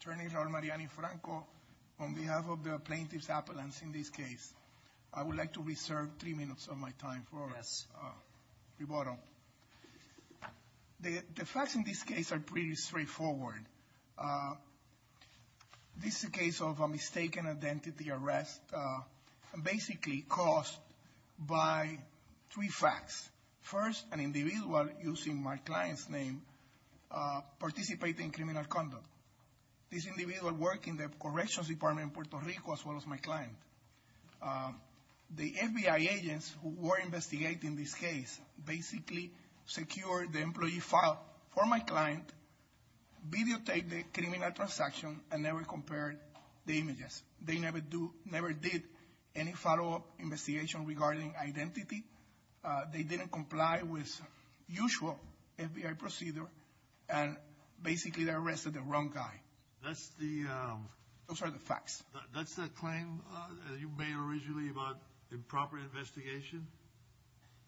Attorney General Mariani-Franco, on behalf of the plaintiff's appellants in this case, I would like to reserve three minutes of my time for rebuttal. The facts in this case are pretty straightforward. This is a case of a mistaken identity arrest, basically caused by three facts. First, an individual using my client's name participated in criminal conduct. This individual worked in the corrections department in Puerto Rico, as well as my client. The FBI agents who were investigating this case basically secured the employee file for my client, videotaped the criminal transaction, and never compared the images. They never did any follow-up investigation regarding identity. They didn't comply with usual FBI procedure, and basically they arrested the wrong guy. Those are the facts. That's that claim you made originally about improper investigation?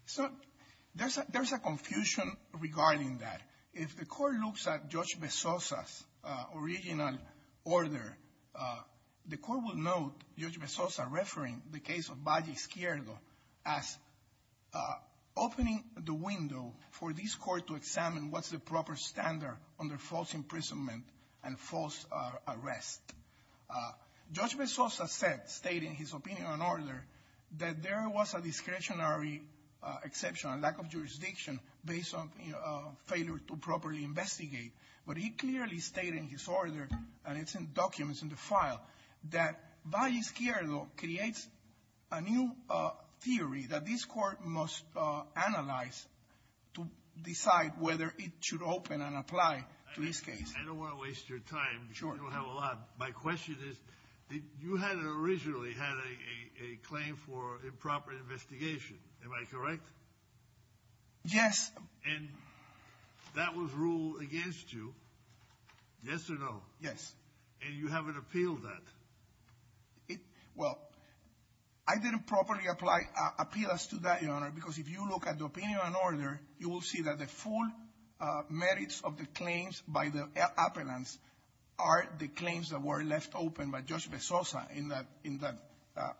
So there's a confusion regarding that. If the court looks at Judge Bezosa's original order, the court will note Judge Bezosa referring the case of Valle Izquierdo as opening the window for this court to examine what's the proper standard under false imprisonment and false arrest. Judge Bezosa said, stating his opinion on order, that there was a discretionary exception, a lack of jurisdiction, based on failure to properly investigate. But he clearly stated in his order, and it's in documents in the file, that Valle Izquierdo creates a new theory that this court must analyze to decide whether it should open and apply to this case. I don't want to waste your time. Sure. You don't have a lot. My question is, you had originally had a claim for improper investigation. Am I correct? Yes. And that was ruled against you. Yes or no? Yes. And you haven't appealed that? Well, I didn't properly appeal as to that, Your Honor, because if you look at the opinion on order, you will see that the full merits of the claims by the appellants are the claims that were left open by Judge Bezosa, in that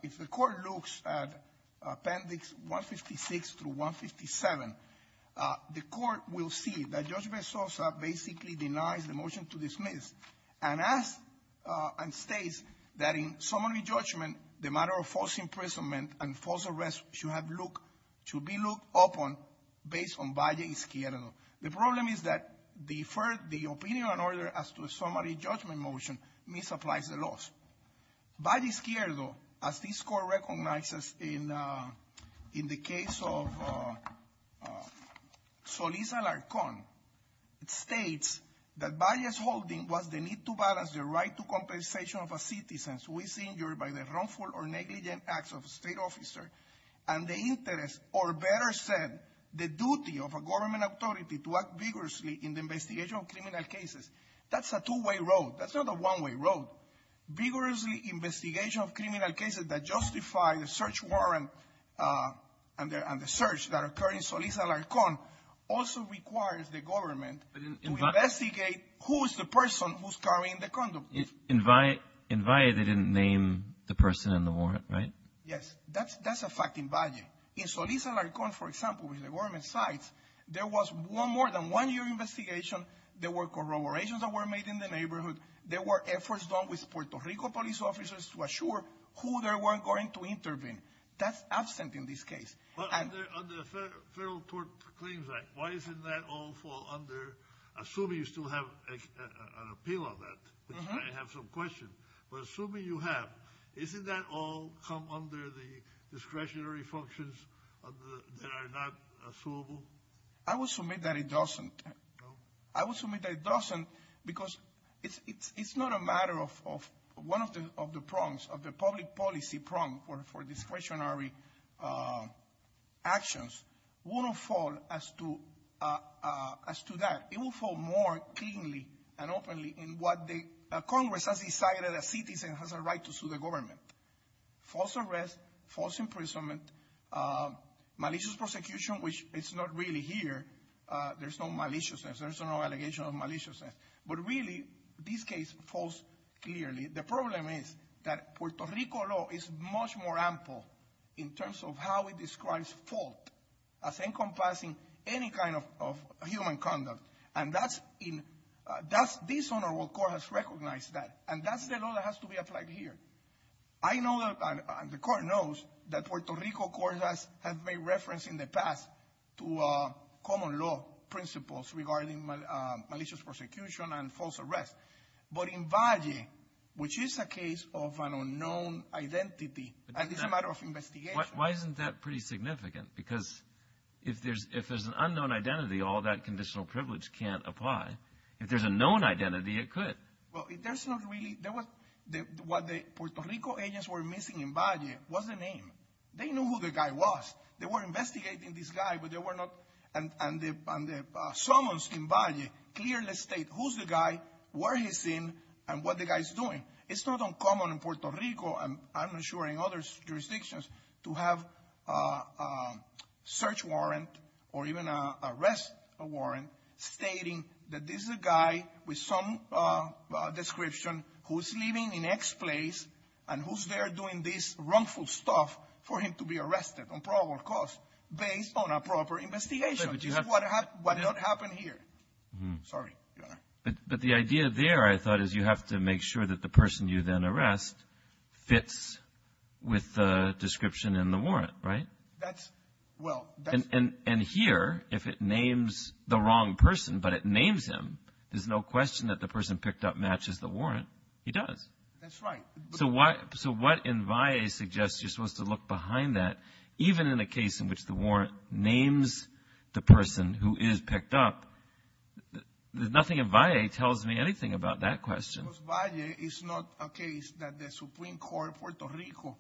if the court looks at Appendix 156 through 157, the court will see that Judge Bezosa basically denies the motion to dismiss and states that in summary judgment, the matter of false imprisonment and false arrest should be looked upon based on Valle Izquierdo. The problem is that the opinion on order as to a summary judgment motion misapplies the laws. Valle Izquierdo, as this court recognizes in the case of Solís Alarcón, states that Valle's holding was the need to balance the right to compensation of a citizen who is injured by the wrongful or And the interest, or better said, the duty of a government authority to act vigorously in the investigation of criminal cases. That's a two-way road. That's not a one-way road. Vigorously investigation of criminal cases that justify the search warrant and the search that occurred in Solís Alarcón also requires the government to investigate who is the person who's carrying the condom. In Valle, they didn't name the person in the warrant, right? Yes, that's a fact in Valle. In Solís Alarcón, for example, which the government cites, there was more than one year investigation. There were corroborations that were made in the neighborhood. There were efforts done with Puerto Rico police officers to assure who they were going to intervene. That's absent in this case. But under the Federal Tort Claims Act, why doesn't that all fall under, assuming you still have an discretionary functions that are not suable? I will submit that it doesn't. I will submit that it doesn't because it's not a matter of one of the prongs, of the public policy prong for discretionary actions. It won't fall as to that. It will fall more cleanly and openly in what the Congress has decided a citizen has a right to sue the government. False arrest, false imprisonment, malicious prosecution, which is not really here. There's no maliciousness. There's no allegation of maliciousness. But really, this case falls clearly. The problem is that Puerto Rico law is much more ample in terms of how it describes fault as encompassing any kind of human conduct. This honorable court has recognized that, and that's the law that has to be applied here. I know, and the court knows, that Puerto Rico court has made reference in the past to common law principles regarding malicious prosecution and false arrest. But in Valle, which is a case of an unknown identity, and it's a matter of investigation. Why isn't that pretty significant? Because if there's an unknown identity, all that conditional privilege can't apply. If there's a known identity, it could. Well, if there's not really, there was, what the Puerto Rico agents were missing in Valle was the name. They knew who the guy was. They were investigating this guy, but they were not, and the summons in Valle clearly state who's the guy, where he's in, and what the guy's doing. It's not uncommon in Puerto Rico, and I'm not sure in other jurisdictions, to have a search warrant or even arrest warrant stating that this is a guy with some description who's living in X place and who's there doing this wrongful stuff for him to be arrested on probable cause based on a proper investigation, which is what happened here. Sorry. But the idea there, I thought, is you have to make sure that the person you then arrest fits with the description in the warrant, right? That's, well. And here, if it names the wrong person, but it names him, there's no question that the person picked up matches the warrant. He does. That's right. So what in Valle suggests you're supposed to look behind that, even in a case in which the warrant names the person who is picked up, there's nothing in Valle tells me anything about that question. Because Valle is not a case that the Supreme Court of Puerto Rico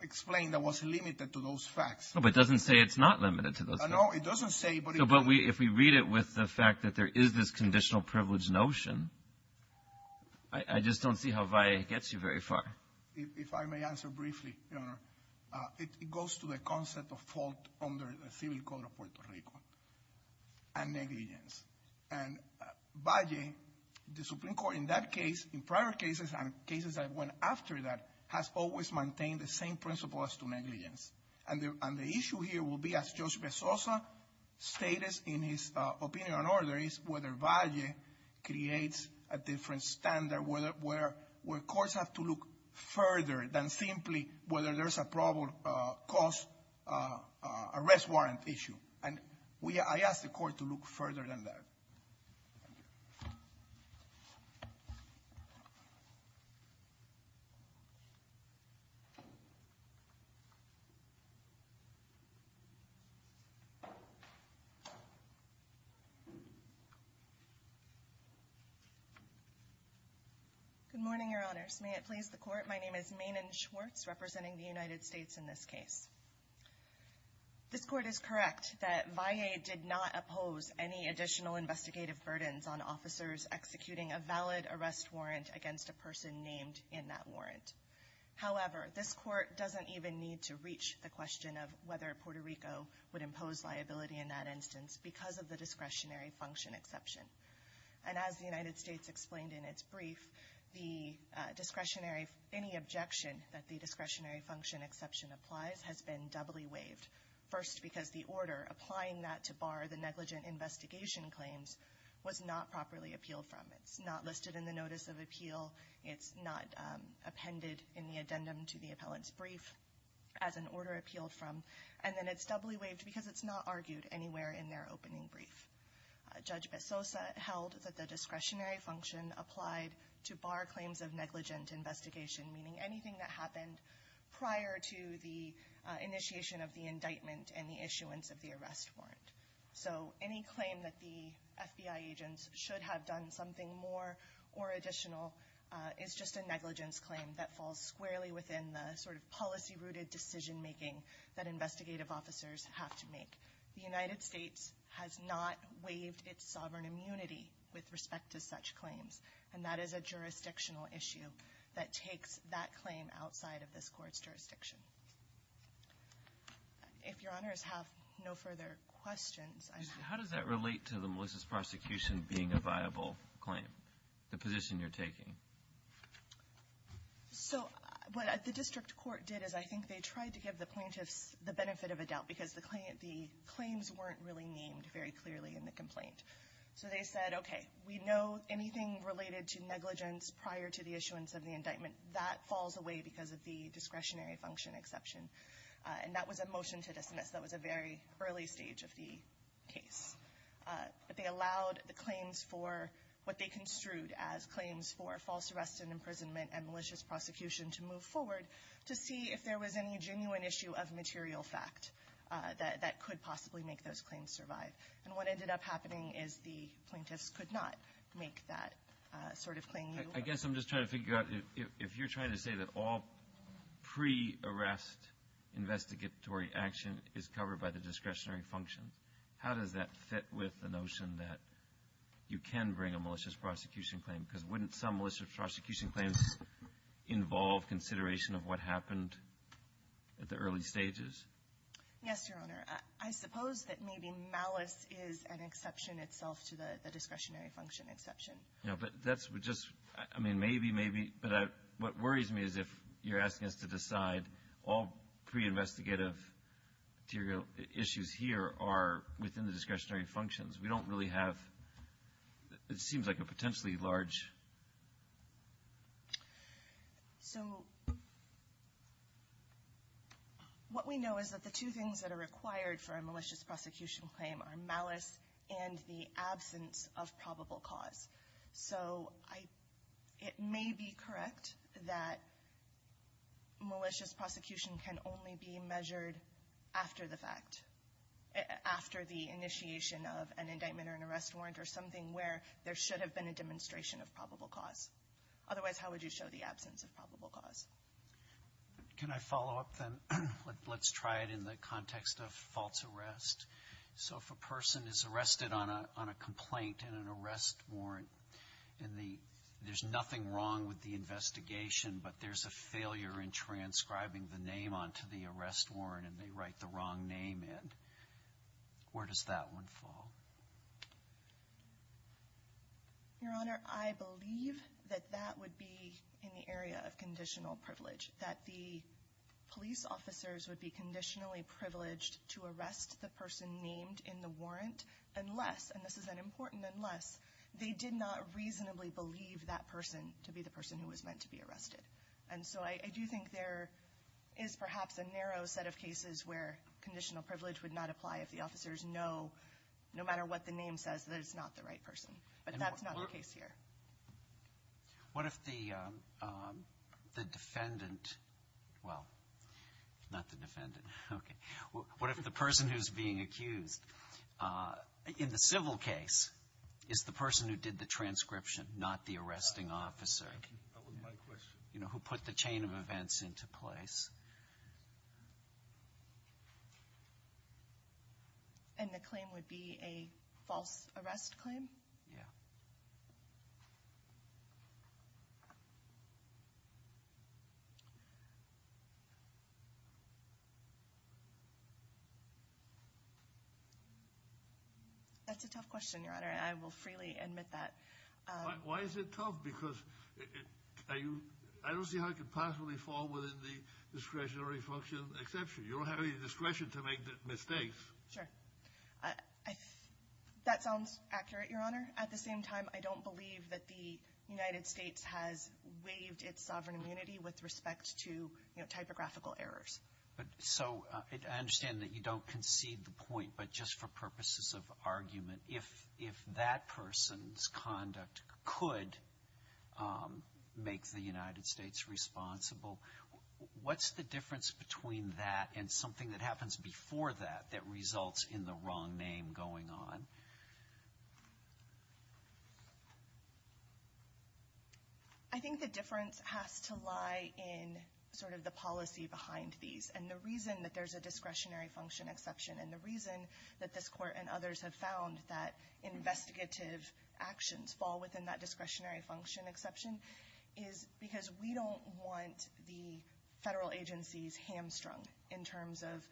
explained that was limited to those facts. No, but it doesn't say it's not limited to those facts. No, it doesn't say, but it does. But if we read it with the fact that there is this conditional privilege notion, I just don't see how Valle gets you very far. If I may answer briefly, Your Honor, it goes to the concept of fault under the Civil Code of Puerto Rico and negligence. And Valle, the Supreme Court in that case, in prior cases and cases that went after that, has always maintained the same principles to negligence. And the issue here will be, as Judge Bezosa stated in his opinion on order, is whether Valle creates a different standard where courts have to look further than simply whether there's a arrest warrant issue. And I ask the court to look further than that. Good morning, Your Honors. May it please the court, my name is Maenen Schwartz, representing the United States in this case. This court is correct that Valle did not oppose any additional investigative burdens on officers executing a valid arrest warrant against a person named in that warrant. However, this court doesn't even need to reach the question of whether Puerto Rico would impose liability in that instance because of the discretionary function exception. And as the United States explained in its brief, any objection that the discretionary function exception applies has been doubly waived. First, because the order applying that to bar the negligent investigation claims was not properly appealed from. It's not listed in the notice of appeal. It's not appended in the addendum to the appellant's brief as an order appealed from. And then it's doubly waived because it's not argued anywhere in their opening brief. Judge Bezosa held that the discretionary function applied to bar claims of negligent investigation, meaning anything that happened prior to the initiation of the indictment and the issuance of the arrest warrant. So any claim that the FBI agents should have done something more or additional is just a negligence claim that falls squarely within the sort of policy-rooted decision making that investigative officers have to make. The United States has not waived its sovereign immunity with respect to such claims, and that is a jurisdictional issue that takes that claim outside of this court's jurisdiction. If your honors have no further questions, I'm happy to... How does that relate to the Melissa's prosecution being a viable claim, the position you're taking? So what the district court did is I think they tried to give the plaintiffs the benefit of a doubt because the claims weren't really named very clearly in the complaint. So they said, okay, we know anything related to negligence prior to the issuance of the indictment, that falls away because of the discretionary function exception. And that was a motion to dismiss, that was a very early stage of the case. But they allowed the claims for what they construed as claims for false arrest and imprisonment and malicious prosecution to move forward to see if there was any genuine issue of material fact that could possibly make those claims survive. And what ended up happening is the plaintiffs could not make that sort of claim. I guess I'm just trying to figure out if you're trying to say that all pre-arrest investigatory action is covered by the discretionary function, how does that fit with the notion that you can bring a malicious prosecution claim? Because wouldn't some malicious prosecution claims involve consideration of what happened at the early stages? Yes, Your Honor. I suppose that maybe malice is an exception itself to the discretionary function exception. Yeah, but that's just, I mean, maybe, maybe. But what worries me is if you're asking us to decide all pre-investigative issues here are within the discretionary functions. We don't really have, it seems like a potentially large... So what we know is that the two things that are required for a malicious prosecution claim are malice and the absence of probable cause. So it may be correct that malicious prosecution can only be measured after the fact, after the initiation of an indictment or an arrest warrant or something where there should have been a demonstration of probable cause. Otherwise, how would you show the absence of probable cause? Can I follow up then? Let's try it in the context of false arrest. So if a person is arrested on a complaint and an arrest warrant, and there's nothing wrong with the investigation, but there's a failure in transcribing the name onto the arrest warrant, and they write the wrong name in, where does that one fall? Your Honor, I believe that that would be in the area of conditional privilege, that the police officers would be conditionally privileged to arrest the person named in the warrant, unless, and this is an important unless, they did not reasonably believe that person to be the person who was meant to be arrested. And so I do think there is perhaps a narrow set of cases where conditional privilege would not apply if the officers know no matter what the name says that it's not the right person. But that's not the case here. What if the defendant, well, not the defendant, okay. What if the person who's being accused in the civil case is the person who did the transcription, not the arresting officer? That would be my question. You know, who put the chain of events into place. And the claim would be a false arrest claim? Yeah. That's a tough question, Your Honor. I will freely admit that. Why is it tough? Because I don't see how it could possibly fall within the discretion of the court. Exception, you don't have any discretion to make mistakes. Sure. That sounds accurate, Your Honor. At the same time, I don't believe that the United States has waived its sovereign immunity with respect to typographical errors. But so I understand that you don't concede the point. But just for purposes of argument, if that person's conduct could make the United States responsible, what's the difference between that and something that happens before that, that results in the wrong name going on? I think the difference has to lie in sort of the policy behind these. And the reason that there's a discretionary function exception, and the reason that this Court and others have found that investigative actions fall within that discretionary function exception, is because we don't want the federal agencies hamstrung in terms of,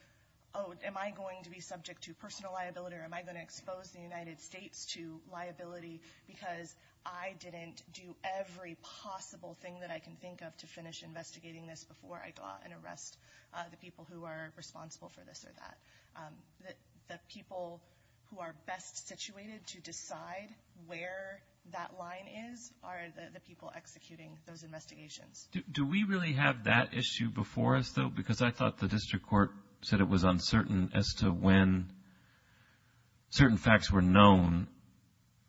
oh, am I going to be subject to personal liability, or am I going to expose the United States to liability, because I didn't do every possible thing that I can think of to finish investigating this before I go out and arrest the people who are responsible for this or that. The people who are best situated to decide where that line is are the people executing those investigations. Do we really have that issue before us, though? Because I thought the district court said it was uncertain as to when certain facts were known,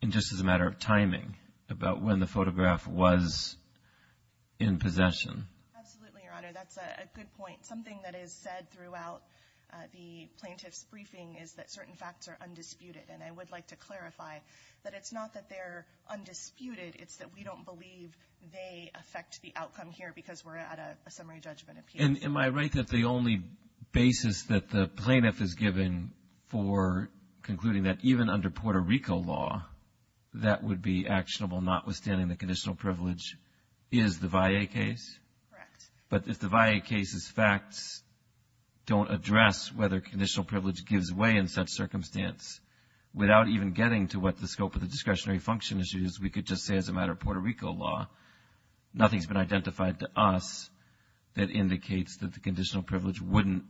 and just as a matter of timing, about when the photograph was in possession. Absolutely, Your Honor. That's a good point. Something that is said throughout the plaintiff's briefing is that certain facts are undisputed. And I would like to clarify that it's not that they're undisputed. It's that we don't believe they affect the outcome here because we're at a summary judgment appeal. And am I right that the only basis that the plaintiff is given for concluding that even under Puerto Rico law, that would be actionable notwithstanding the conditional privilege is the VAE case? Correct. But if the VAE case's facts don't address whether conditional privilege gives way in such circumstance, without even getting to what the scope of the discretionary function issue is, we could just say as a matter of Puerto Rico law, nothing's been identified to us that indicates that the conditional privilege wouldn't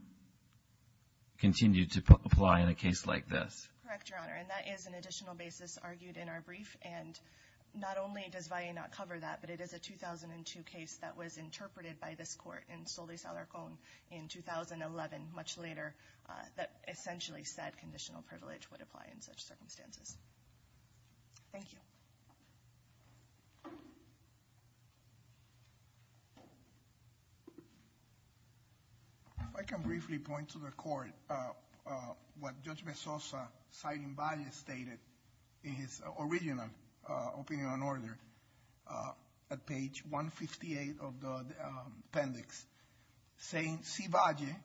continue to apply in a case like this. Correct, Your Honor. And that is an additional basis argued in our brief. And not only does VAE not cover that, but it is a 2002 case that was interpreted by this court in Solis-Alarcon in 2011, much later, that essentially said conditional privilege would apply in such circumstances. Thank you. If I can briefly point to the court, what Judge Mezosa, citing Valle, stated in his original opinion on order at page 158 of the appendix, saying, see Valle,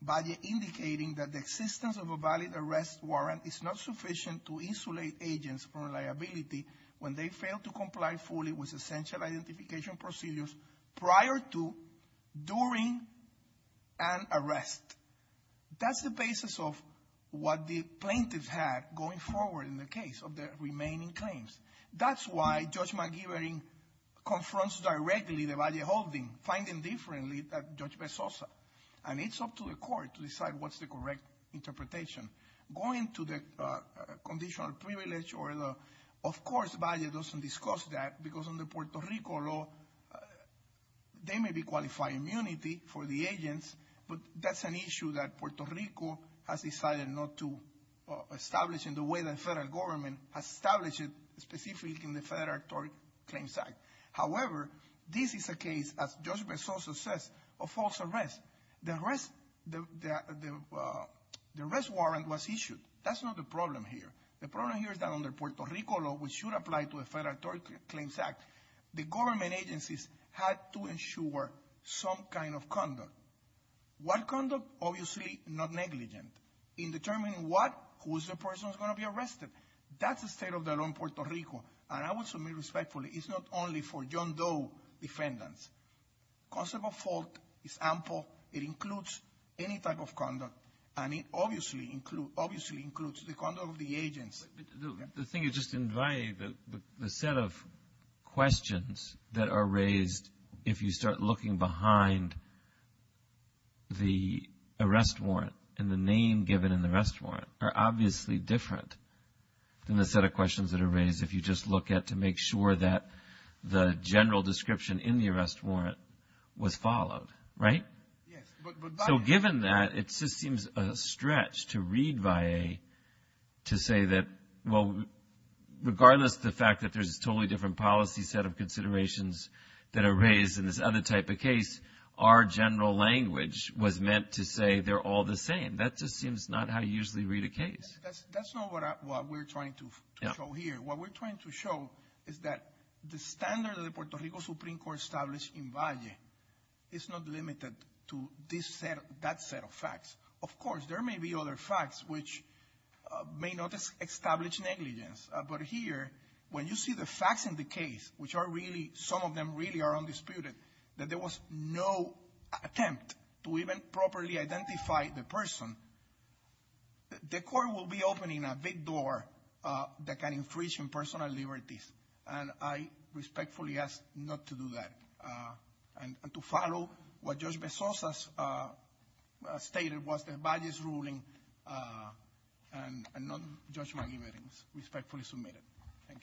Valle indicating that the existence of a valid arrest warrant is not sufficient to insulate agents from liability when they fail to comply fully with essential identification procedures prior to, during an arrest. That's the basis of what the plaintiff had going forward in the case of the remaining claims. That's why Judge McGivern confronts directly the Valle holding, finding differently that Judge Mezosa. And it's up to the court to decide what's the correct interpretation. Going to the conditional privilege, or the, of course, Valle doesn't discuss that, because in the Puerto Rico law, they may be qualifying immunity for the agents, but that's an issue that Puerto Rico has decided not to establish in the way the federal government has established it, specifically in the Federal Arbitrary Claims Act. However, this is a case, as Judge Mezosa says, of false arrest. The arrest, the arrest warrant was issued. That's not the problem here. The problem here is that under Puerto Rico law, which should apply to the Federal Arbitrary Claims Act, the government agencies had to ensure some kind of conduct. What conduct? Obviously, not negligent in determining what, who is the person who's going to be arrested. That's the state of the law in Puerto Rico. And I would submit respectfully, it's not only for John Doe defendants. Concept of fault is ample. It includes any type of conduct, and it obviously includes the conduct of the agents. The thing is, just in Valle, the set of questions that are raised, if you start looking behind the arrest warrant, and the name given in the arrest warrant, are obviously different than the set of questions that are raised, if you just look at to make sure that the general description in the arrest warrant was followed, right? Yes, but- So given that, it just seems a stretch to read Valle to say that, well, regardless of the fact that there's a totally different policy set of considerations that are raised in this other type of case, our general language was meant to say they're all the same. That just seems not how you usually read a case. That's not what we're trying to show here. What we're trying to show is that the standard of the Puerto Rico Supreme Court established in Valle is not limited to this set, that set of facts. Of course, there may be other facts which may not establish negligence. But here, when you see the facts in the case, which are really, some of them really are undisputed, that there was no attempt to even properly identify the person, the court will be opening a big door that can infringe on personal liberties. And I respectfully ask not to do that. And to follow what Judge Bezos has stated was the Valle's ruling and non-judgmental evidence, respectfully submit it. Thank you.